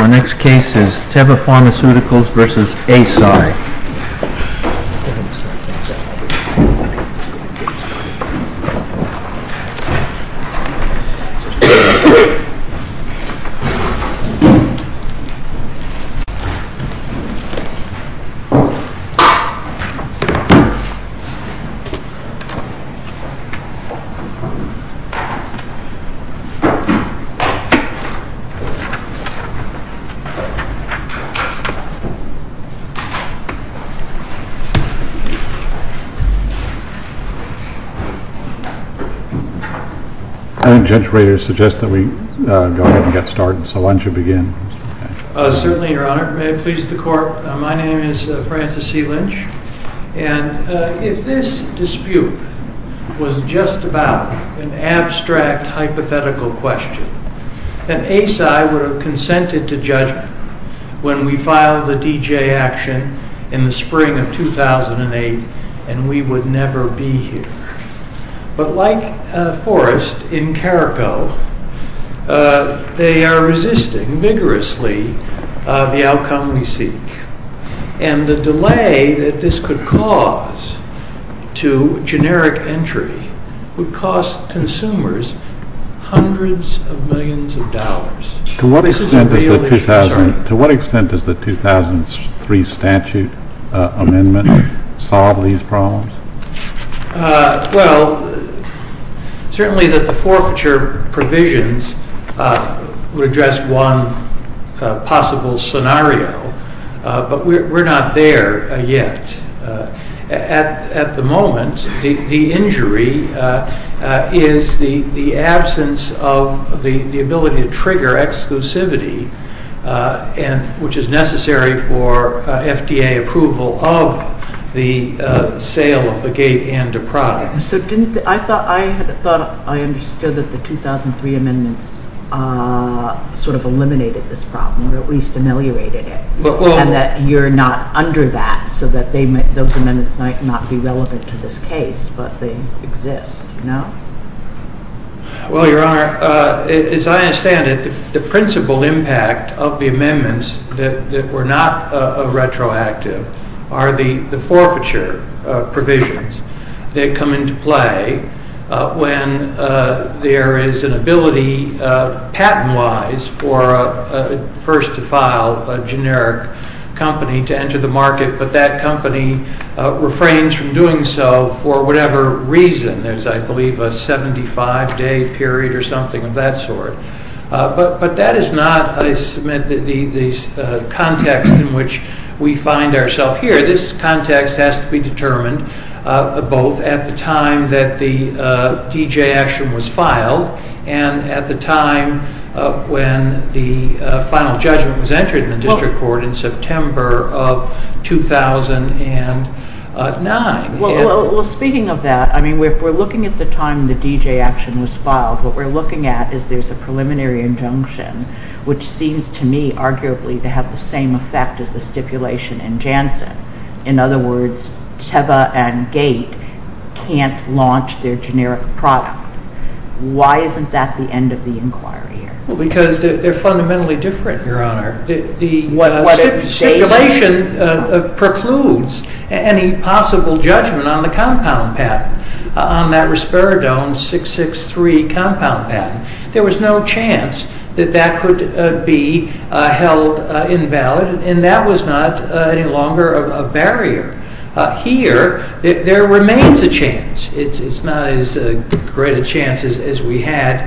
Our next case is Teva Pharmaceuticals v. Eisai. I think Judge Rader suggests that we go ahead and get started, so why don't you begin? Certainly, Your Honor. May it please the Court, my name is Francis C. Lynch, and if this dispute was just about an abstract hypothetical question, then Eisai would have consented to judgment when we filed the D.J. action in the spring of 2008, and we would never be here. But like Forrest in Carrico, they are resisting vigorously the outcome we seek, and the delay that this could cause to generic entry would cost consumers hundreds of millions of dollars. To what extent does the 2003 statute amendment solve these problems? Well, certainly that the forfeiture provisions would address one possible scenario, but we're not there yet. At the moment, the injury is the absence of the ability to trigger exclusivity, which is necessary for FDA approval of the sale of the gate and the product. So I thought I understood that the 2003 amendments sort of eliminated this problem, or at least ameliorated it, and that you're not under that, so that those amendments might not be relevant to this case, but they exist, no? Well, Your Honor, as I understand it, the principal impact of the amendments that were not retroactive are the forfeiture provisions that come into play when there is an ability, patent-wise, for a first-to-file generic company to enter the market, but that company refrains from doing so for whatever reason. There's, I believe, a 75-day period or something of that sort. But that is not, I submit, the context in which we find ourselves here. This context has to be determined both at the time that the D.J. action was filed and at the time when the final judgment was entered in the district court in September of 2009. Well, speaking of that, I mean, if we're looking at the time the D.J. action was filed, what we're looking at is there's a preliminary injunction which seems to me arguably to have the same effect as the stipulation in Janssen. In other words, Teba and Gate can't launch their generic product. Why isn't that the end of the inquiry here? Well, because they're fundamentally different, Your Honor. The stipulation precludes any possible judgment on the compound patent, on that Risperidone 663 compound patent. There was no chance that that could be held invalid, and that was not any longer a barrier. Here, there remains a chance. It's not as great a chance as we had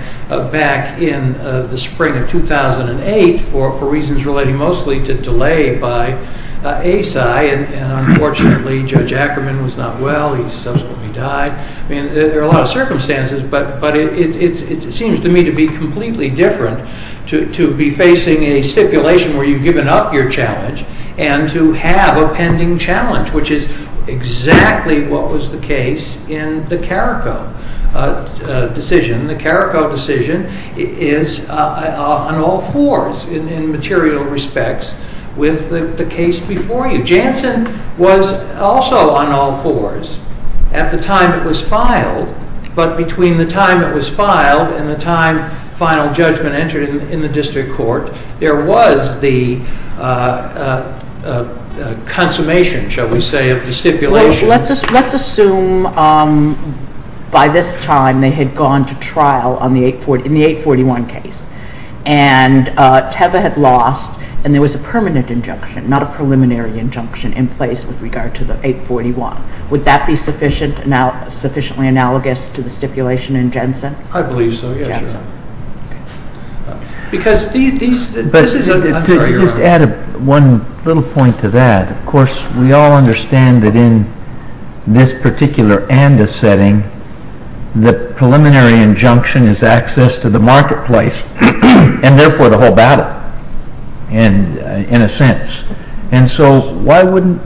back in the spring of 2008 for reasons relating mostly to delay by ASI. And unfortunately, Judge Ackerman was not well. He subsequently died. I mean, there are a lot of circumstances, but it seems to me to be completely different to be facing a stipulation where you've given up your challenge and to have a pending challenge, which is exactly what was the case in the Carrico decision. The Carrico decision is on all fours in material respects with the case before you. Janssen was also on all fours at the time it was filed, but between the time it was filed and the time final judgment entered in the district court, there was the consummation, shall we say, of the stipulation. Well, let's assume by this time they had gone to trial in the 841 case, and Teva had lost, and there was a permanent injunction, not a preliminary injunction, in place with regard to the 841. Would that be sufficiently analogous to the stipulation in Janssen? I believe so, yes, Your Honor. To add one little point to that, of course, we all understand that in this particular ANDA setting, the preliminary injunction is access to the marketplace, and therefore the whole battle, in a sense. And so why wouldn't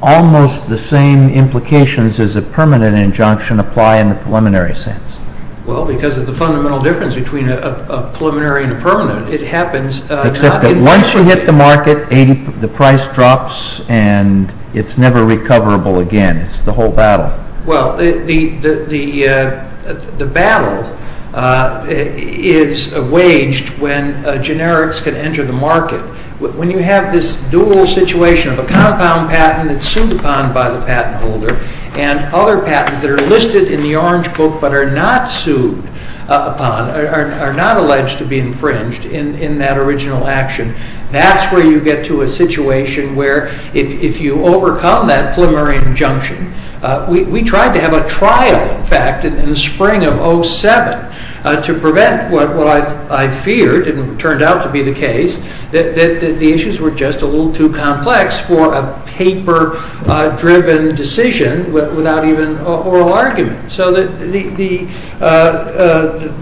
almost the same implications as a permanent injunction apply in the preliminary sense? Well, because of the fundamental difference between a preliminary and a permanent. Except that once you hit the market, the price drops, and it's never recoverable again. It's the whole battle. Well, the battle is waged when generics can enter the market. When you have this dual situation of a compound patent that's sued upon by the patent holder and other patents that are listed in the orange book but are not sued upon, are not alleged to be infringed in that original action, that's where you get to a situation where if you overcome that preliminary injunction, we tried to have a trial, in fact, in the spring of 07 to prevent what I feared and turned out to be the case, that the issues were just a little too complex for a paper-driven decision without even an oral argument. So the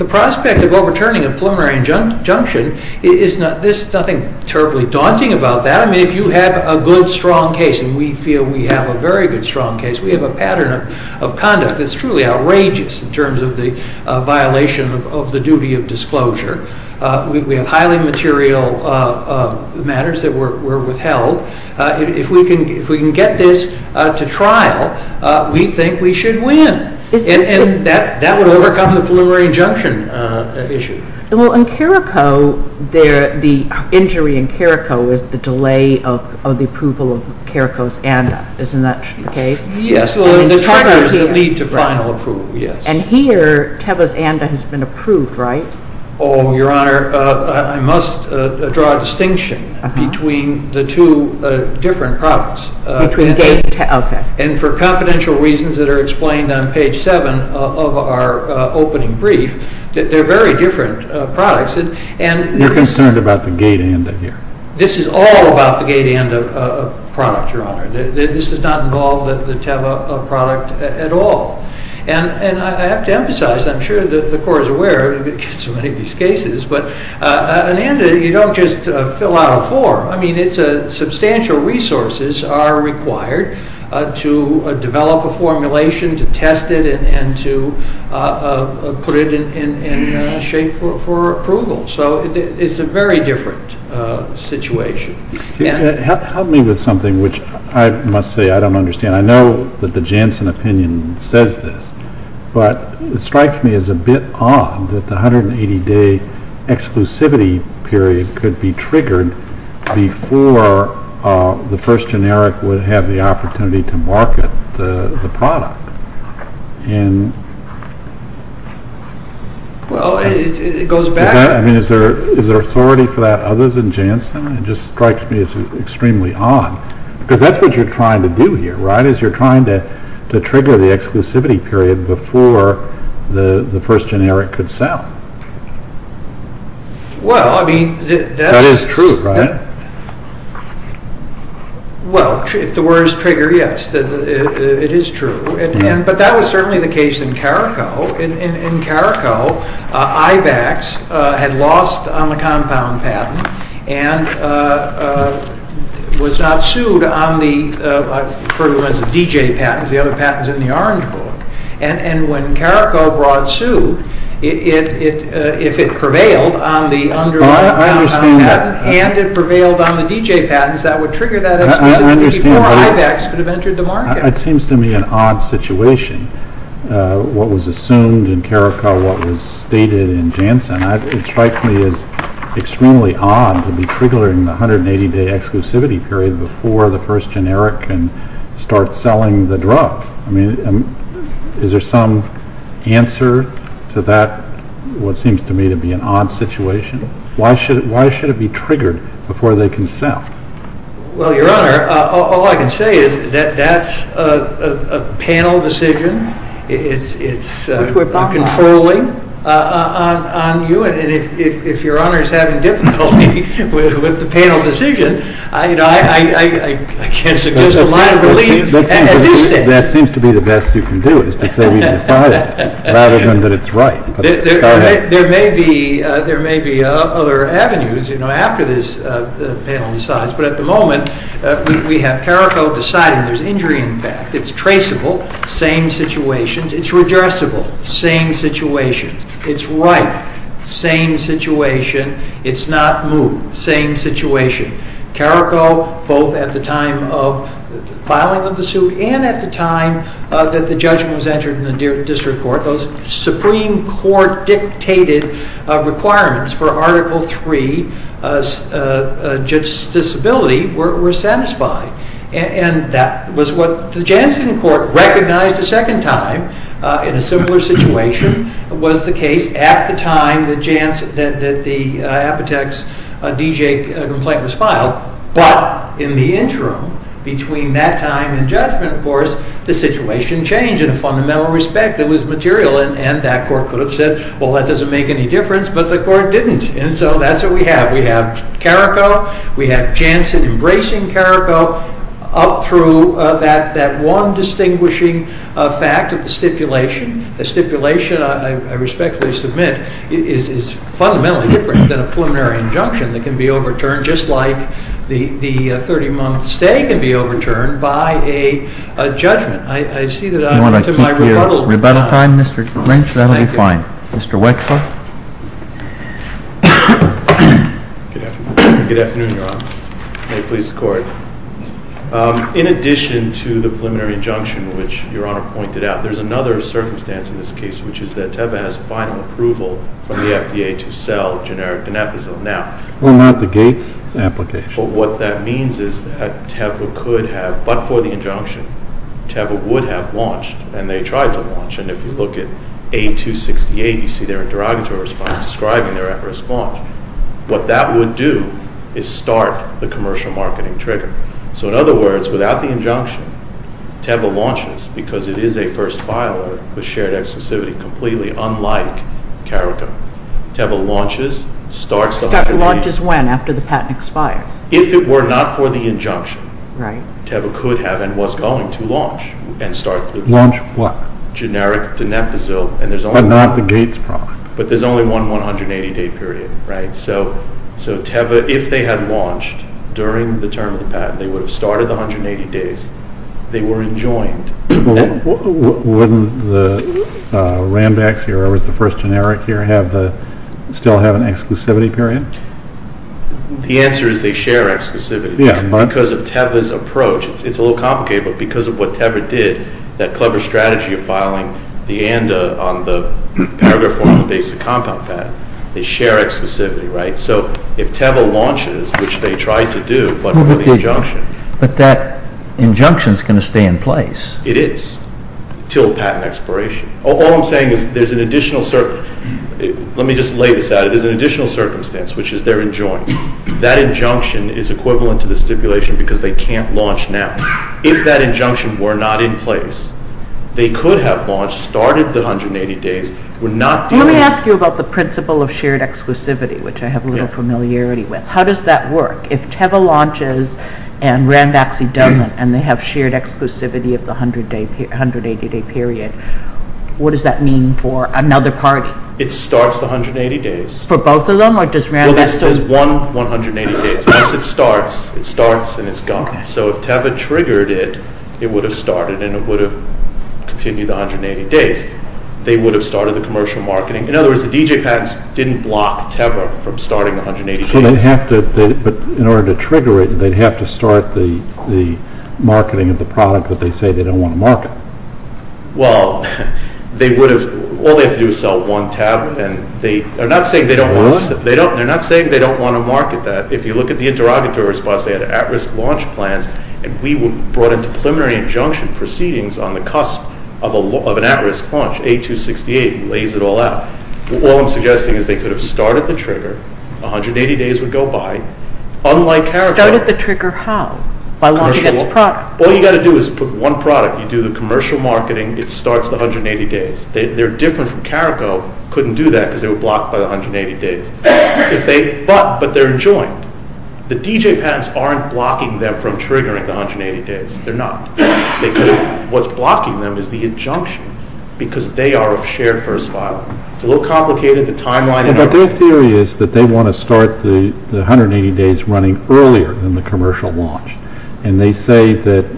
prospect of overturning a preliminary injunction, there's nothing terribly daunting about that. I mean, if you have a good, strong case, and we feel we have a very good, strong case, we have a pattern of conduct that's truly outrageous in terms of the violation of the duty of disclosure. We have highly material matters that were withheld. If we can get this to trial, we think we should win. And that would overcome the preliminary injunction issue. Well, in Carrico, the injury in Carrico is the delay of the approval of Carrico's ANDA. Isn't that the case? Yes. Well, the charges that lead to final approval, yes. And here, Teba's ANDA has been approved, right? Oh, Your Honor, I must draw a distinction between the two different products. Between GATE and Teba, okay. And for confidential reasons that are explained on page 7 of our opening brief, they're very different products. You're concerned about the GATE ANDA here? This is all about the GATE ANDA product, Your Honor. This does not involve the Teba product at all. And I have to emphasize, I'm sure the Court is aware of so many of these cases, but an ANDA, you don't just fill out a form. I mean, substantial resources are required to develop a formulation, to test it, and to put it in shape for approval. So it's a very different situation. Help me with something, which I must say I don't understand. I mean, I know that the Janssen opinion says this, but it strikes me as a bit odd that the 180-day exclusivity period could be triggered before the first generic would have the opportunity to market the product. Well, it goes back. I mean, is there authority for that other than Janssen? It just strikes me as extremely odd. Because that's what you're trying to do here, right, is you're trying to trigger the exclusivity period before the first generic could sell. Well, I mean, that is true, right? Well, if the words trigger, yes, it is true. But that was certainly the case in Carrico. In Carrico, IBEX had lost on the compound patent and was not sued on the DJ patents, the other patents in the Orange Book. And when Carrico brought suit, if it prevailed on the compound patent and it prevailed on the DJ patents, that would trigger that exclusivity before IBEX could have entered the market. It seems to me an odd situation, what was assumed in Carrico, what was stated in Janssen. It strikes me as extremely odd to be triggering the 180-day exclusivity period before the first generic can start selling the drug. I mean, is there some answer to that, what seems to me to be an odd situation? Why should it be triggered before they can sell? Well, Your Honor, all I can say is that that's a panel decision. It's controlling on you, and if Your Honor is having difficulty with the panel decision, I can't suggest a minor relief at this stage. That seems to be the best you can do, is to say we've decided rather than that it's right. There may be other avenues, you know, after this panel decides, but at the moment we have Carrico deciding there's injury in fact. It's traceable, same situations. It's redressable, same situations. It's right, same situation. It's not moved, same situation. Carrico, both at the time of filing of the suit and at the time that the judgment was entered in the district court, those Supreme Court dictated requirements for Article III, just disability, were satisfied. And that was what the Jansen court recognized a second time in a similar situation, was the case at the time that the Apotex DJ complaint was filed, but in the interim between that time and judgment, of course, the situation changed in a fundamental respect that was material and that court could have said, well, that doesn't make any difference, but the court didn't. And so that's what we have. We have Carrico. We have Jansen embracing Carrico up through that one distinguishing fact of the stipulation. The stipulation, I respectfully submit, is fundamentally different than a preliminary injunction that can be overturned just like the 30-month stay can be overturned by a judgment. I see that I'm at my rebuttal time. You want to keep your rebuttal time, Mr. Clinch? That will be fine. Thank you. Mr. Wexler? Good afternoon, Your Honor. May it please the Court. In addition to the preliminary injunction, which Your Honor pointed out, there's another circumstance in this case, which is that Teva has final approval from the FDA to sell generic Danefazil now. Well, not the Gates application. But what that means is that Teva could have, but for the injunction, Teva would have launched, and they tried to launch. And if you look at 8268, you see their interrogatory response describing their at-risk launch. What that would do is start the commercial marketing trigger. So in other words, without the injunction, Teva launches because it is a first filer with shared exclusivity, completely unlike Carrico. Teva launches, starts the FDA. If it were not for the injunction, Teva could have and was going to launch. Launch what? Generic Danefazil. But not the Gates product. But there's only one 180-day period, right? So Teva, if they had launched during the term of the patent, they would have started the 180 days. They were enjoined. Wouldn't the Rambax here, or the first generic here, still have an exclusivity period? The answer is they share exclusivity. Because of Teva's approach, it's a little complicated, but because of what Teva did, that clever strategy of filing the ANDA on the paragraph form of the basic compound patent, they share exclusivity, right? So if Teva launches, which they tried to do, but without the injunction. But that injunction is going to stay in place. It is, until the patent expiration. All I'm saying is there's an additional circumstance, which is they're enjoined. That injunction is equivalent to the stipulation because they can't launch now. If that injunction were not in place, they could have launched, started the 180 days. Let me ask you about the principle of shared exclusivity, which I have a little familiarity with. How does that work? If Teva launches and Rambax doesn't, and they have shared exclusivity of the 180-day period, what does that mean for another party? It starts the 180 days. For both of them, or just Rambax? There's one 180 days. Once it starts, it starts and it's gone. So if Teva triggered it, it would have started and it would have continued the 180 days. They would have started the commercial marketing. But in order to trigger it, they'd have to start the marketing of the product that they say they don't want to market. Well, all they have to do is sell one tablet. They're not saying they don't want to market that. If you look at the interrogatory response, they had at-risk launch plans, and we were brought into preliminary injunction proceedings on the cusp of an at-risk launch. A268 lays it all out. All I'm suggesting is they could have started the trigger. The 180 days would go by. Unlike Carrico. Started the trigger how? By launching its product. All you've got to do is put one product. You do the commercial marketing. It starts the 180 days. They're different from Carrico. Couldn't do that because they were blocked by the 180 days. But they're enjoined. The DJ patents aren't blocking them from triggering the 180 days. They're not. What's blocking them is the injunction because they are a shared first file. It's a little complicated. The timeline and everything. But their theory is that they want to start the 180 days running earlier than the commercial launch. And they say that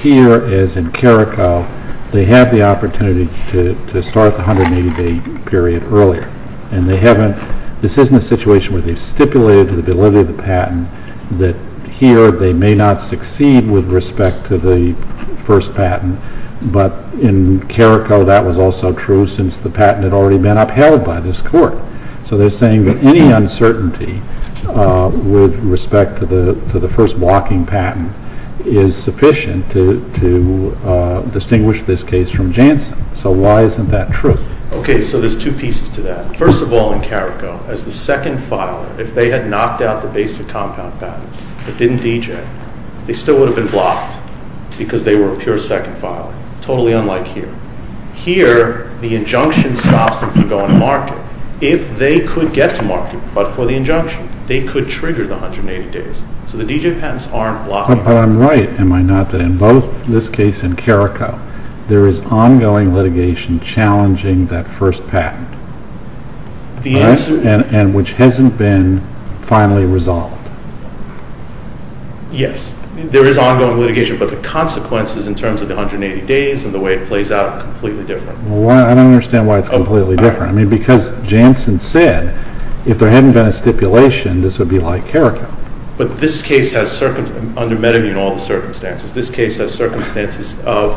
here, as in Carrico, they have the opportunity to start the 180-day period earlier. And they haven't. This isn't a situation where they've stipulated the validity of the patent, that here they may not succeed with respect to the first patent. But in Carrico, that was also true since the patent had already been upheld by this court. So they're saying that any uncertainty with respect to the first blocking patent is sufficient to distinguish this case from Janssen. So why isn't that true? Okay, so there's two pieces to that. First of all, in Carrico, as the second filer, if they had knocked out the basic compound patent but didn't DJ it, they still would have been blocked because they were a pure second filer. Totally unlike here. Here, the injunction stops them from going to market. If they could get to market, but for the injunction, they could trigger the 180 days. So the DJ patents aren't blocking. But I'm right, am I not, that in both this case and Carrico, there is ongoing litigation challenging that first patent. The answer— And which hasn't been finally resolved. Yes. There is ongoing litigation, but the consequences in terms of the 180 days and the way it plays out are completely different. Well, I don't understand why it's completely different. I mean, because Janssen said if there hadn't been a stipulation, this would be like Carrico. But this case has, under Medivine, all the circumstances, this case has circumstances of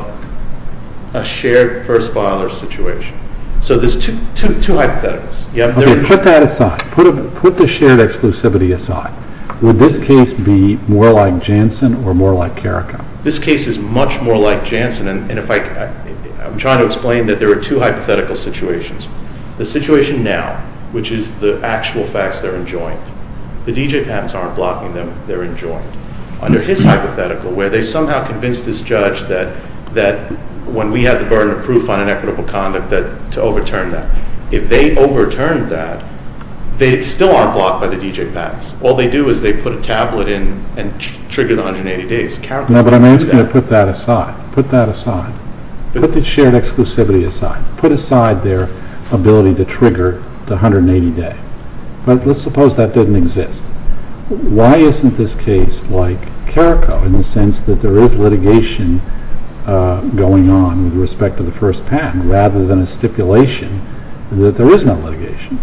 a shared first filer situation. So there's two hypotheticals. Okay, put that aside. Put the shared exclusivity aside. Would this case be more like Janssen or more like Carrico? This case is much more like Janssen. And if I—I'm trying to explain that there are two hypothetical situations. The situation now, which is the actual facts that are enjoined. The DJ patents aren't blocking them. They're enjoined. Under his hypothetical, where they somehow convinced this judge that when we had the burden of proof on inequitable conduct, to overturn that. If they overturned that, they still aren't blocked by the DJ patents. All they do is they put a tablet in and trigger the 180 days. Now, but I'm asking you to put that aside. Put that aside. Put the shared exclusivity aside. Put aside their ability to trigger the 180 day. But let's suppose that didn't exist. Why isn't this case like Carrico in the sense that there is litigation going on with respect to the first patent rather than a stipulation that there is no litigation?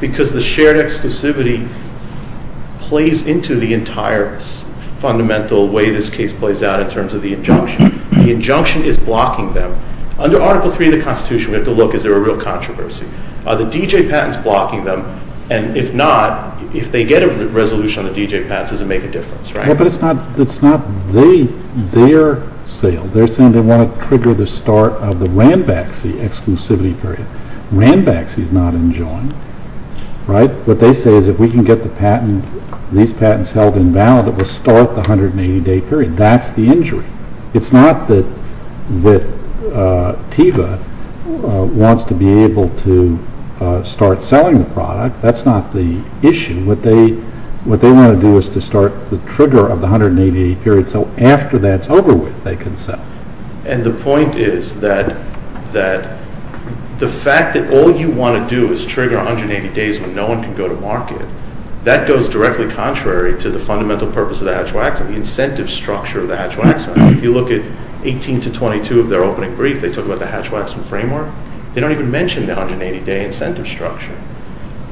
Because the shared exclusivity plays into the entire fundamental way this case plays out in terms of the injunction. The injunction is blocking them. Under Article III of the Constitution, we have to look, is there a real controversy? Are the DJ patents blocking them? And if not, if they get a resolution on the DJ patents, does it make a difference, right? Yeah, but it's not their sale. They're saying they want to trigger the start of the Rambaxi exclusivity period. Rambaxi is not enjoined, right? What they say is if we can get these patents held invalid, it will start the 180 day period. That's the injury. It's not that TIVA wants to be able to start selling the product. That's not the issue. What they want to do is to start the trigger of the 180 day period so after that's over with, they can sell. And the point is that the fact that all you want to do is trigger 180 days when no one can go to market, that goes directly contrary to the fundamental purpose of the Hatch-Waxman, the incentive structure of the Hatch-Waxman. If you look at 18 to 22 of their opening brief, they talk about the Hatch-Waxman framework. They don't even mention the 180 day incentive structure.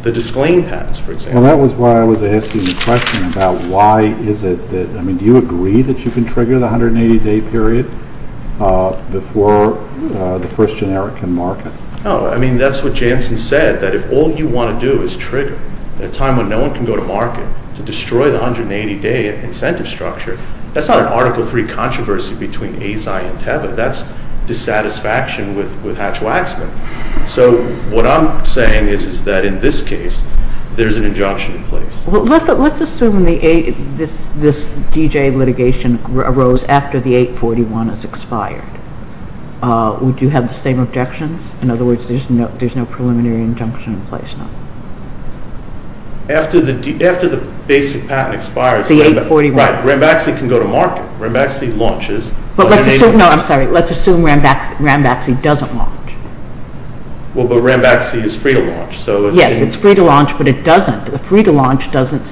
The Disclaim patents, for example. Well, that was why I was asking the question about why is it that, I mean, do you agree that you can trigger the 180 day period before the first generic can market? No. I mean, that's what Jansen said, that if all you want to do is trigger at a time when no one can go to market to destroy the 180 day incentive structure, that's not an Article III controversy between AZI and TIVA. That's dissatisfaction with Hatch-Waxman. So what I'm saying is that in this case, there's an injunction in place. Let's assume this D.J. litigation arose after the 841 is expired. Would you have the same objections? In other words, there's no preliminary injunction in place, no? After the basic patent expires, Rambaxi can go to market. Rambaxi launches. No, I'm sorry. Let's assume Rambaxi doesn't launch. Well, but Rambaxi is free to launch. Yes, it's free to launch, but it doesn't. The free to launch doesn't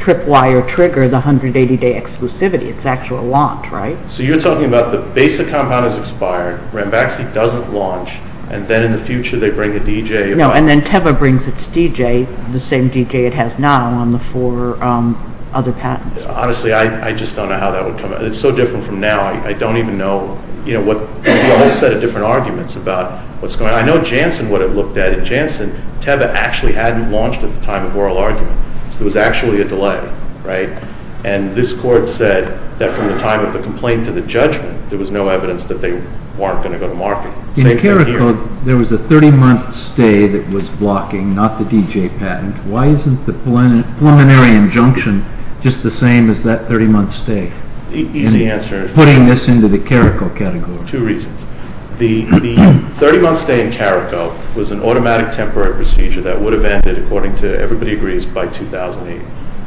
trip wire trigger the 180 day exclusivity. It's actual launch, right? So you're talking about the basic compound is expired, Rambaxi doesn't launch, and then in the future they bring a D.J. No, and then TEVA brings its D.J., the same D.J. it has now on the four other patents. Honestly, I just don't know how that would come out. It's so different from now. I don't even know what the whole set of different arguments about what's going on. I know Janssen would have looked at it. Janssen, TEVA actually hadn't launched at the time of oral argument, so there was actually a delay, right? And this court said that from the time of the complaint to the judgment, there was no evidence that they weren't going to go to market. In Carrico, there was a 30-month stay that was blocking, not the D.J. patent. Why isn't the preliminary injunction just the same as that 30-month stay, putting this into the Carrico category? Two reasons. The 30-month stay in Carrico was an automatic temporary procedure that would have ended, according to everybody agrees, by 2008.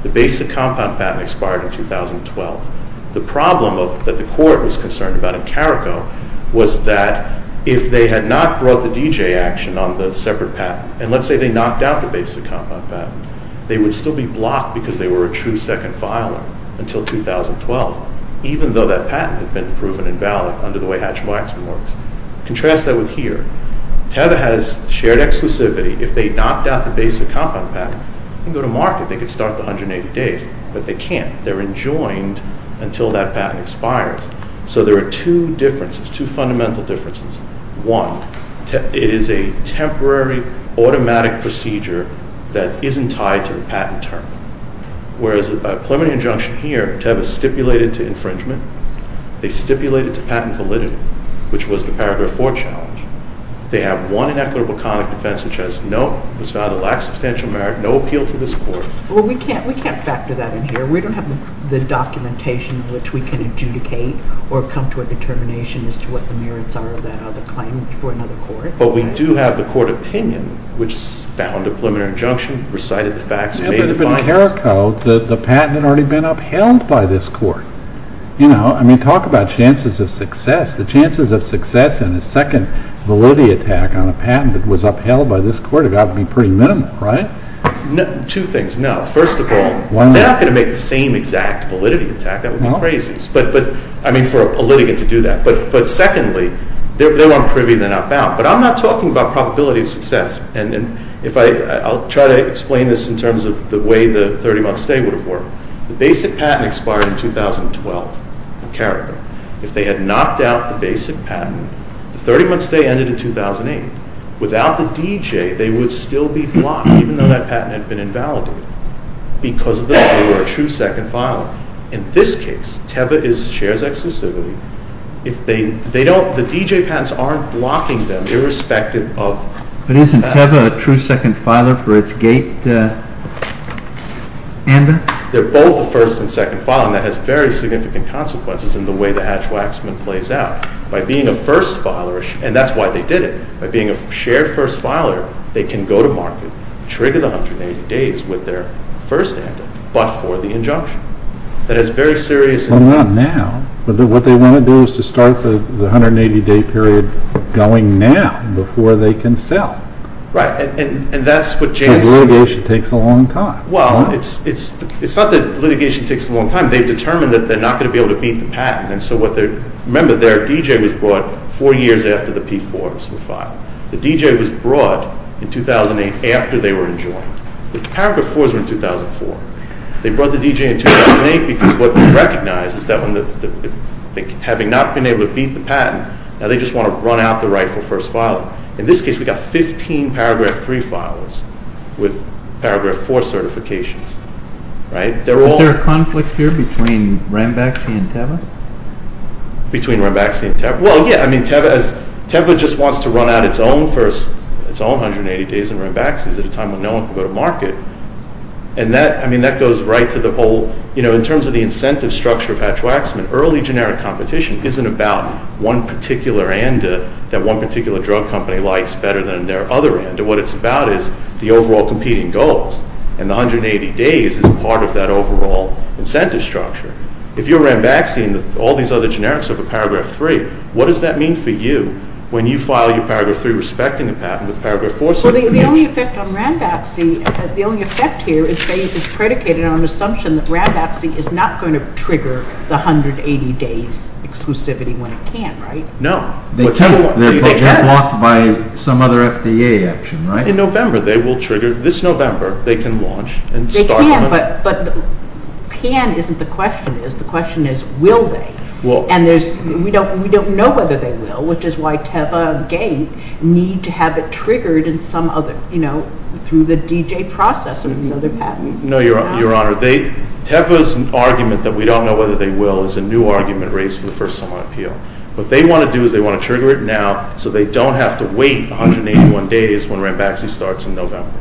The basic compound patent expired in 2012. The problem that the court was concerned about in Carrico was that if they had not brought the D.J. action on the separate patent, and let's say they knocked out the basic compound patent, they would still be blocked because they were a true second filer until 2012, even though that patent had been proven invalid under the way Hatch-Weinzman works. Contrast that with here. TEVA has shared exclusivity. If they knocked out the basic compound patent and go to market, they could start the 180 days, but they can't. They're enjoined until that patent expires. So there are two differences, two fundamental differences. One, it is a temporary automatic procedure that isn't tied to the patent term, whereas a preliminary injunction here, TEVA stipulated to infringement. They stipulated to patent validity, which was the paragraph 4 challenge. They have one inequitable conduct defense, which has no, was found to lack substantial merit, no appeal to this court. Well, we can't factor that in here. We don't have the documentation which we can adjudicate or come to a determination as to what the merits are of that other claim for another court. But we do have the court opinion, which found a preliminary injunction, recited the facts, and made the findings. But in Carrico, the patent had already been upheld by this court. I mean, talk about chances of success. The chances of success in a second validity attack on a patent that was upheld by this court have got to be pretty minimal, right? Two things. No, first of all, they're not going to make the same exact validity attack. That would be crazy, I mean, for a litigant to do that. But secondly, they're more privy than outbound. But I'm not talking about probability of success. And I'll try to explain this in terms of the way the 30-month stay would have worked. The basic patent expired in 2012 in Carrico. If they had knocked out the basic patent, the 30-month stay ended in 2008. Without the DJ, they would still be blocked, even though that patent had been invalidated. Because of this, they were a true second filer. In this case, Teva is the chair's exclusivity. The DJ patents aren't blocking them, irrespective of the patent. But isn't Teva a true second filer for its gate? Amber? They're both a first and second filer, and that has very significant consequences in the way the Hatch-Waxman plays out. By being a first filer, and that's why they did it, by being a shared first filer, they can go to market, trigger the 180 days with their first amendment, but for the injunction. That is very serious. Well, not now. What they want to do is to start the 180-day period going now, before they can sell. Right, and that's what Jan said. Because litigation takes a long time. Well, it's not that litigation takes a long time. They've determined that they're not going to be able to beat the patent. Remember, their DJ was brought four years after the P4s were filed. The DJ was brought in 2008 after they were enjoined. The paragraph 4s were in 2004. They brought the DJ in 2008 because what they recognized is that having not been able to beat the patent, now they just want to run out the rightful first filer. In this case, we've got 15 paragraph 3 filers with paragraph 4 certifications. Right? Is there a conflict here between Rambaxi and Teva? Between Rambaxi and Teva? Well, yeah. Teva just wants to run out its own 180 days in Rambaxi at a time when no one can go to market. And that goes right to the whole, you know, in terms of the incentive structure of Hatch-Waxman, because an early generic competition isn't about one particular end that one particular drug company likes better than their other end. What it's about is the overall competing goals. And the 180 days is part of that overall incentive structure. If you're Rambaxi and all these other generics are for paragraph 3, what does that mean for you when you file your paragraph 3 respecting the patent with paragraph 4 certifications? Well, the only effect on Rambaxi, the only effect here is that it's predicated on an assumption that Rambaxi is not going to trigger the 180 days exclusivity when it can, right? No. They're blocked by some other FDA action, right? In November, they will trigger. This November, they can launch and start. They can, but can isn't the question. The question is, will they? And we don't know whether they will, which is why Teva and Gate need to have it triggered in some other, you know, through the DJ process of these other patents. No, Your Honor. Teva's argument that we don't know whether they will is a new argument raised for the first summer appeal. What they want to do is they want to trigger it now so they don't have to wait 181 days when Rambaxi starts in November.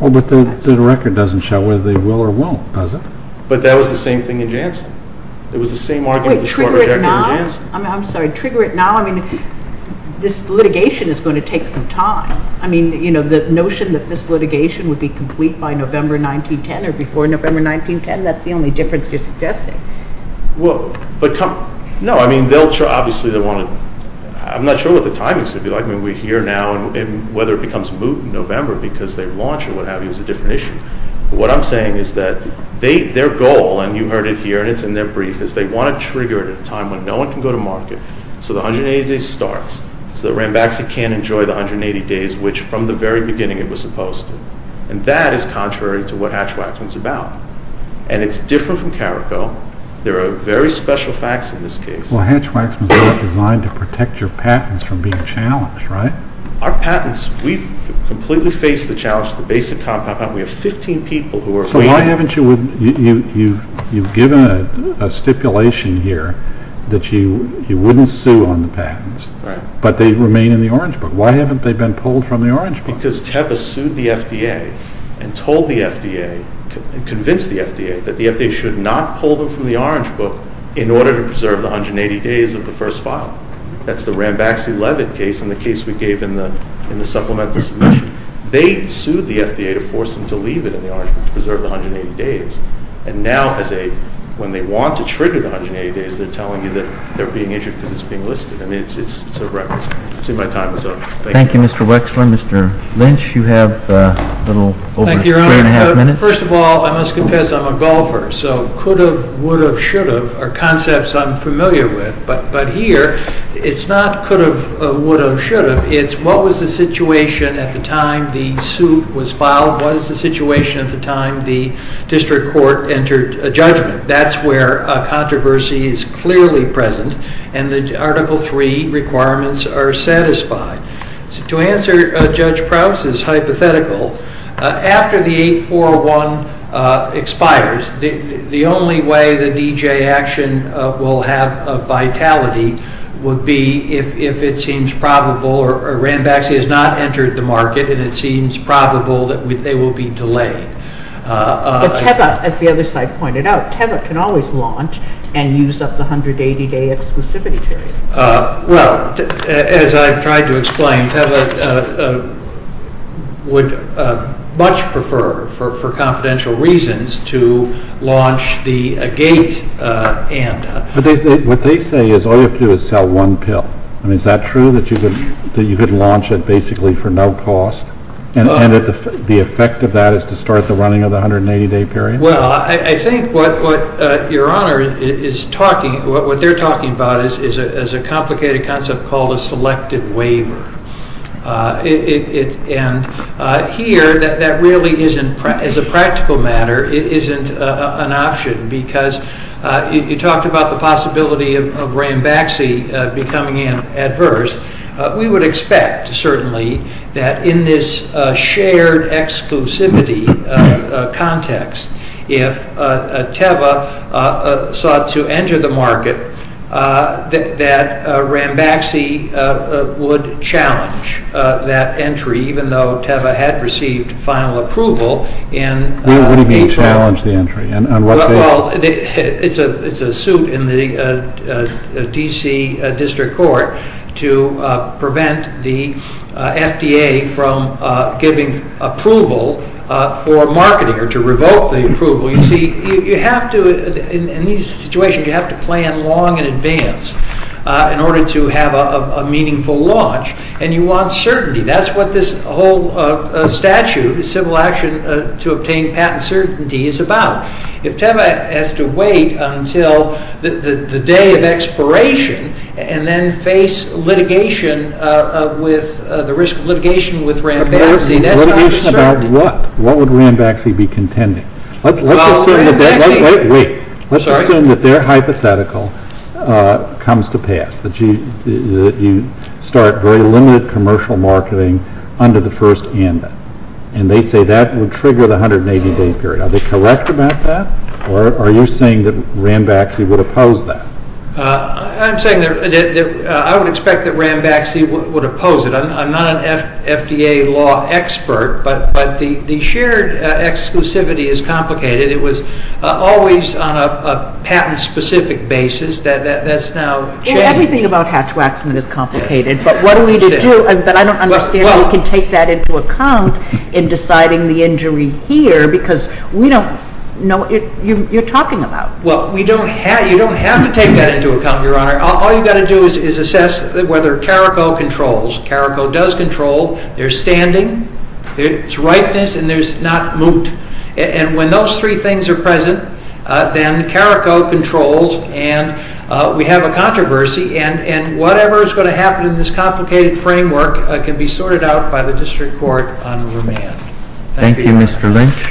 Oh, but the record doesn't show whether they will or won't, does it? But that was the same thing in Janssen. Wait, trigger it now? I'm sorry. Trigger it now? I mean, this litigation is going to take some time. I mean, you know, the notion that this litigation would be complete by November 1910 or before November 1910, that's the only difference you're suggesting. No, I mean, they'll try. Obviously, they want to. I'm not sure what the timing should be like. I mean, we're here now, and whether it becomes moot in November because they launch or what have you is a different issue. What I'm saying is that their goal, and you heard it here, and it's in their brief, is they want to trigger it at a time when no one can go to market so the 180 days starts, so that Rambaxi can enjoy the 180 days, which from the very beginning it was supposed to. And that is contrary to what Hatch-Waxman is about. And it's different from Carrico. There are very special facts in this case. Well, Hatch-Waxman is designed to protect your patents from being challenged, right? Our patents, we completely face the challenge of the basic compound patent. We have 15 people who are waiting. So why haven't you given a stipulation here that you wouldn't sue on the patents, but they remain in the Orange Book? Why haven't they been pulled from the Orange Book? Because Teva sued the FDA and told the FDA, convinced the FDA that the FDA should not pull them from the Orange Book in order to preserve the 180 days of the first file. That's the Rambaxi-Levitt case and the case we gave in the supplemental submission. They sued the FDA to force them to leave it in the Orange Book to preserve the 180 days. And now, when they want to trigger the 180 days, they're telling you that they're being issued because it's being listed. I mean, it's a record. I see my time is up. Thank you. Thank you, Mr. Wexler. Mr. Lynch, you have a little over three and a half minutes. Thank you, Your Honor. First of all, I must confess I'm a golfer, so could have, would have, should have are concepts I'm familiar with. But here, it's not could have, would have, should have. It's what was the situation at the time the suit was filed? What is the situation at the time the district court entered a judgment? That's where a controversy is clearly present, and the Article III requirements are satisfied. To answer Judge Prowse's hypothetical, after the 8401 expires, the only way the D.J. action will have a vitality would be if it seems probable, or Ranbaxy has not entered the market, and it seems probable that they will be delayed. But TEVA, as the other side pointed out, TEVA can always launch and use up the 180-day exclusivity period. Well, as I've tried to explain, TEVA would much prefer, for confidential reasons, to launch the gate and— But what they say is all you have to do is sell one pill. I mean, is that true, that you could launch it basically for no cost, and that the effect of that is to start the running of the 180-day period? Well, I think what Your Honor is talking—what they're talking about is a complicated concept called a selective waiver. And here, that really isn't—as a practical matter, it isn't an option, because you talked about the possibility of Ranbaxy becoming adverse. We would expect, certainly, that in this shared exclusivity context, if TEVA sought to enter the market, that Ranbaxy would challenge that entry, even though TEVA had received final approval in April. What do you mean, challenge the entry? Well, it's a suit in the D.C. District Court to prevent the FDA from giving approval for marketing, or to revoke the approval. You see, you have to—in these situations, you have to plan long in advance in order to have a meaningful launch, and you want certainty. That's what this whole statute, Civil Action to Obtain Patent Certainty, is about. If TEVA has to wait until the day of expiration, and then face litigation with—the risk of litigation with Ranbaxy, that's not a certainty. What would Ranbaxy be contending? Let's assume that their hypothetical comes to pass, that you start very limited commercial marketing under the first amendment, and they say that would trigger the 180-day period. Are they correct about that, or are you saying that Ranbaxy would oppose that? I'm saying that I would expect that Ranbaxy would oppose it. I'm not an FDA law expert, but the shared exclusivity is complicated. It was always on a patent-specific basis. That's now changed. Everything about Hatch-Waxman is complicated, but what are we to do? I don't understand how we can take that into account in deciding the injury here, because we don't know what you're talking about. Well, you don't have to take that into account, Your Honor. All you've got to do is assess whether Carrico controls. Carrico does control. There's standing. There's ripeness, and there's not moot. And when those three things are present, then Carrico controls, and we have a controversy, and whatever is going to happen in this complicated framework can be sorted out by the district court on remand. Thank you, Mr. Lynch.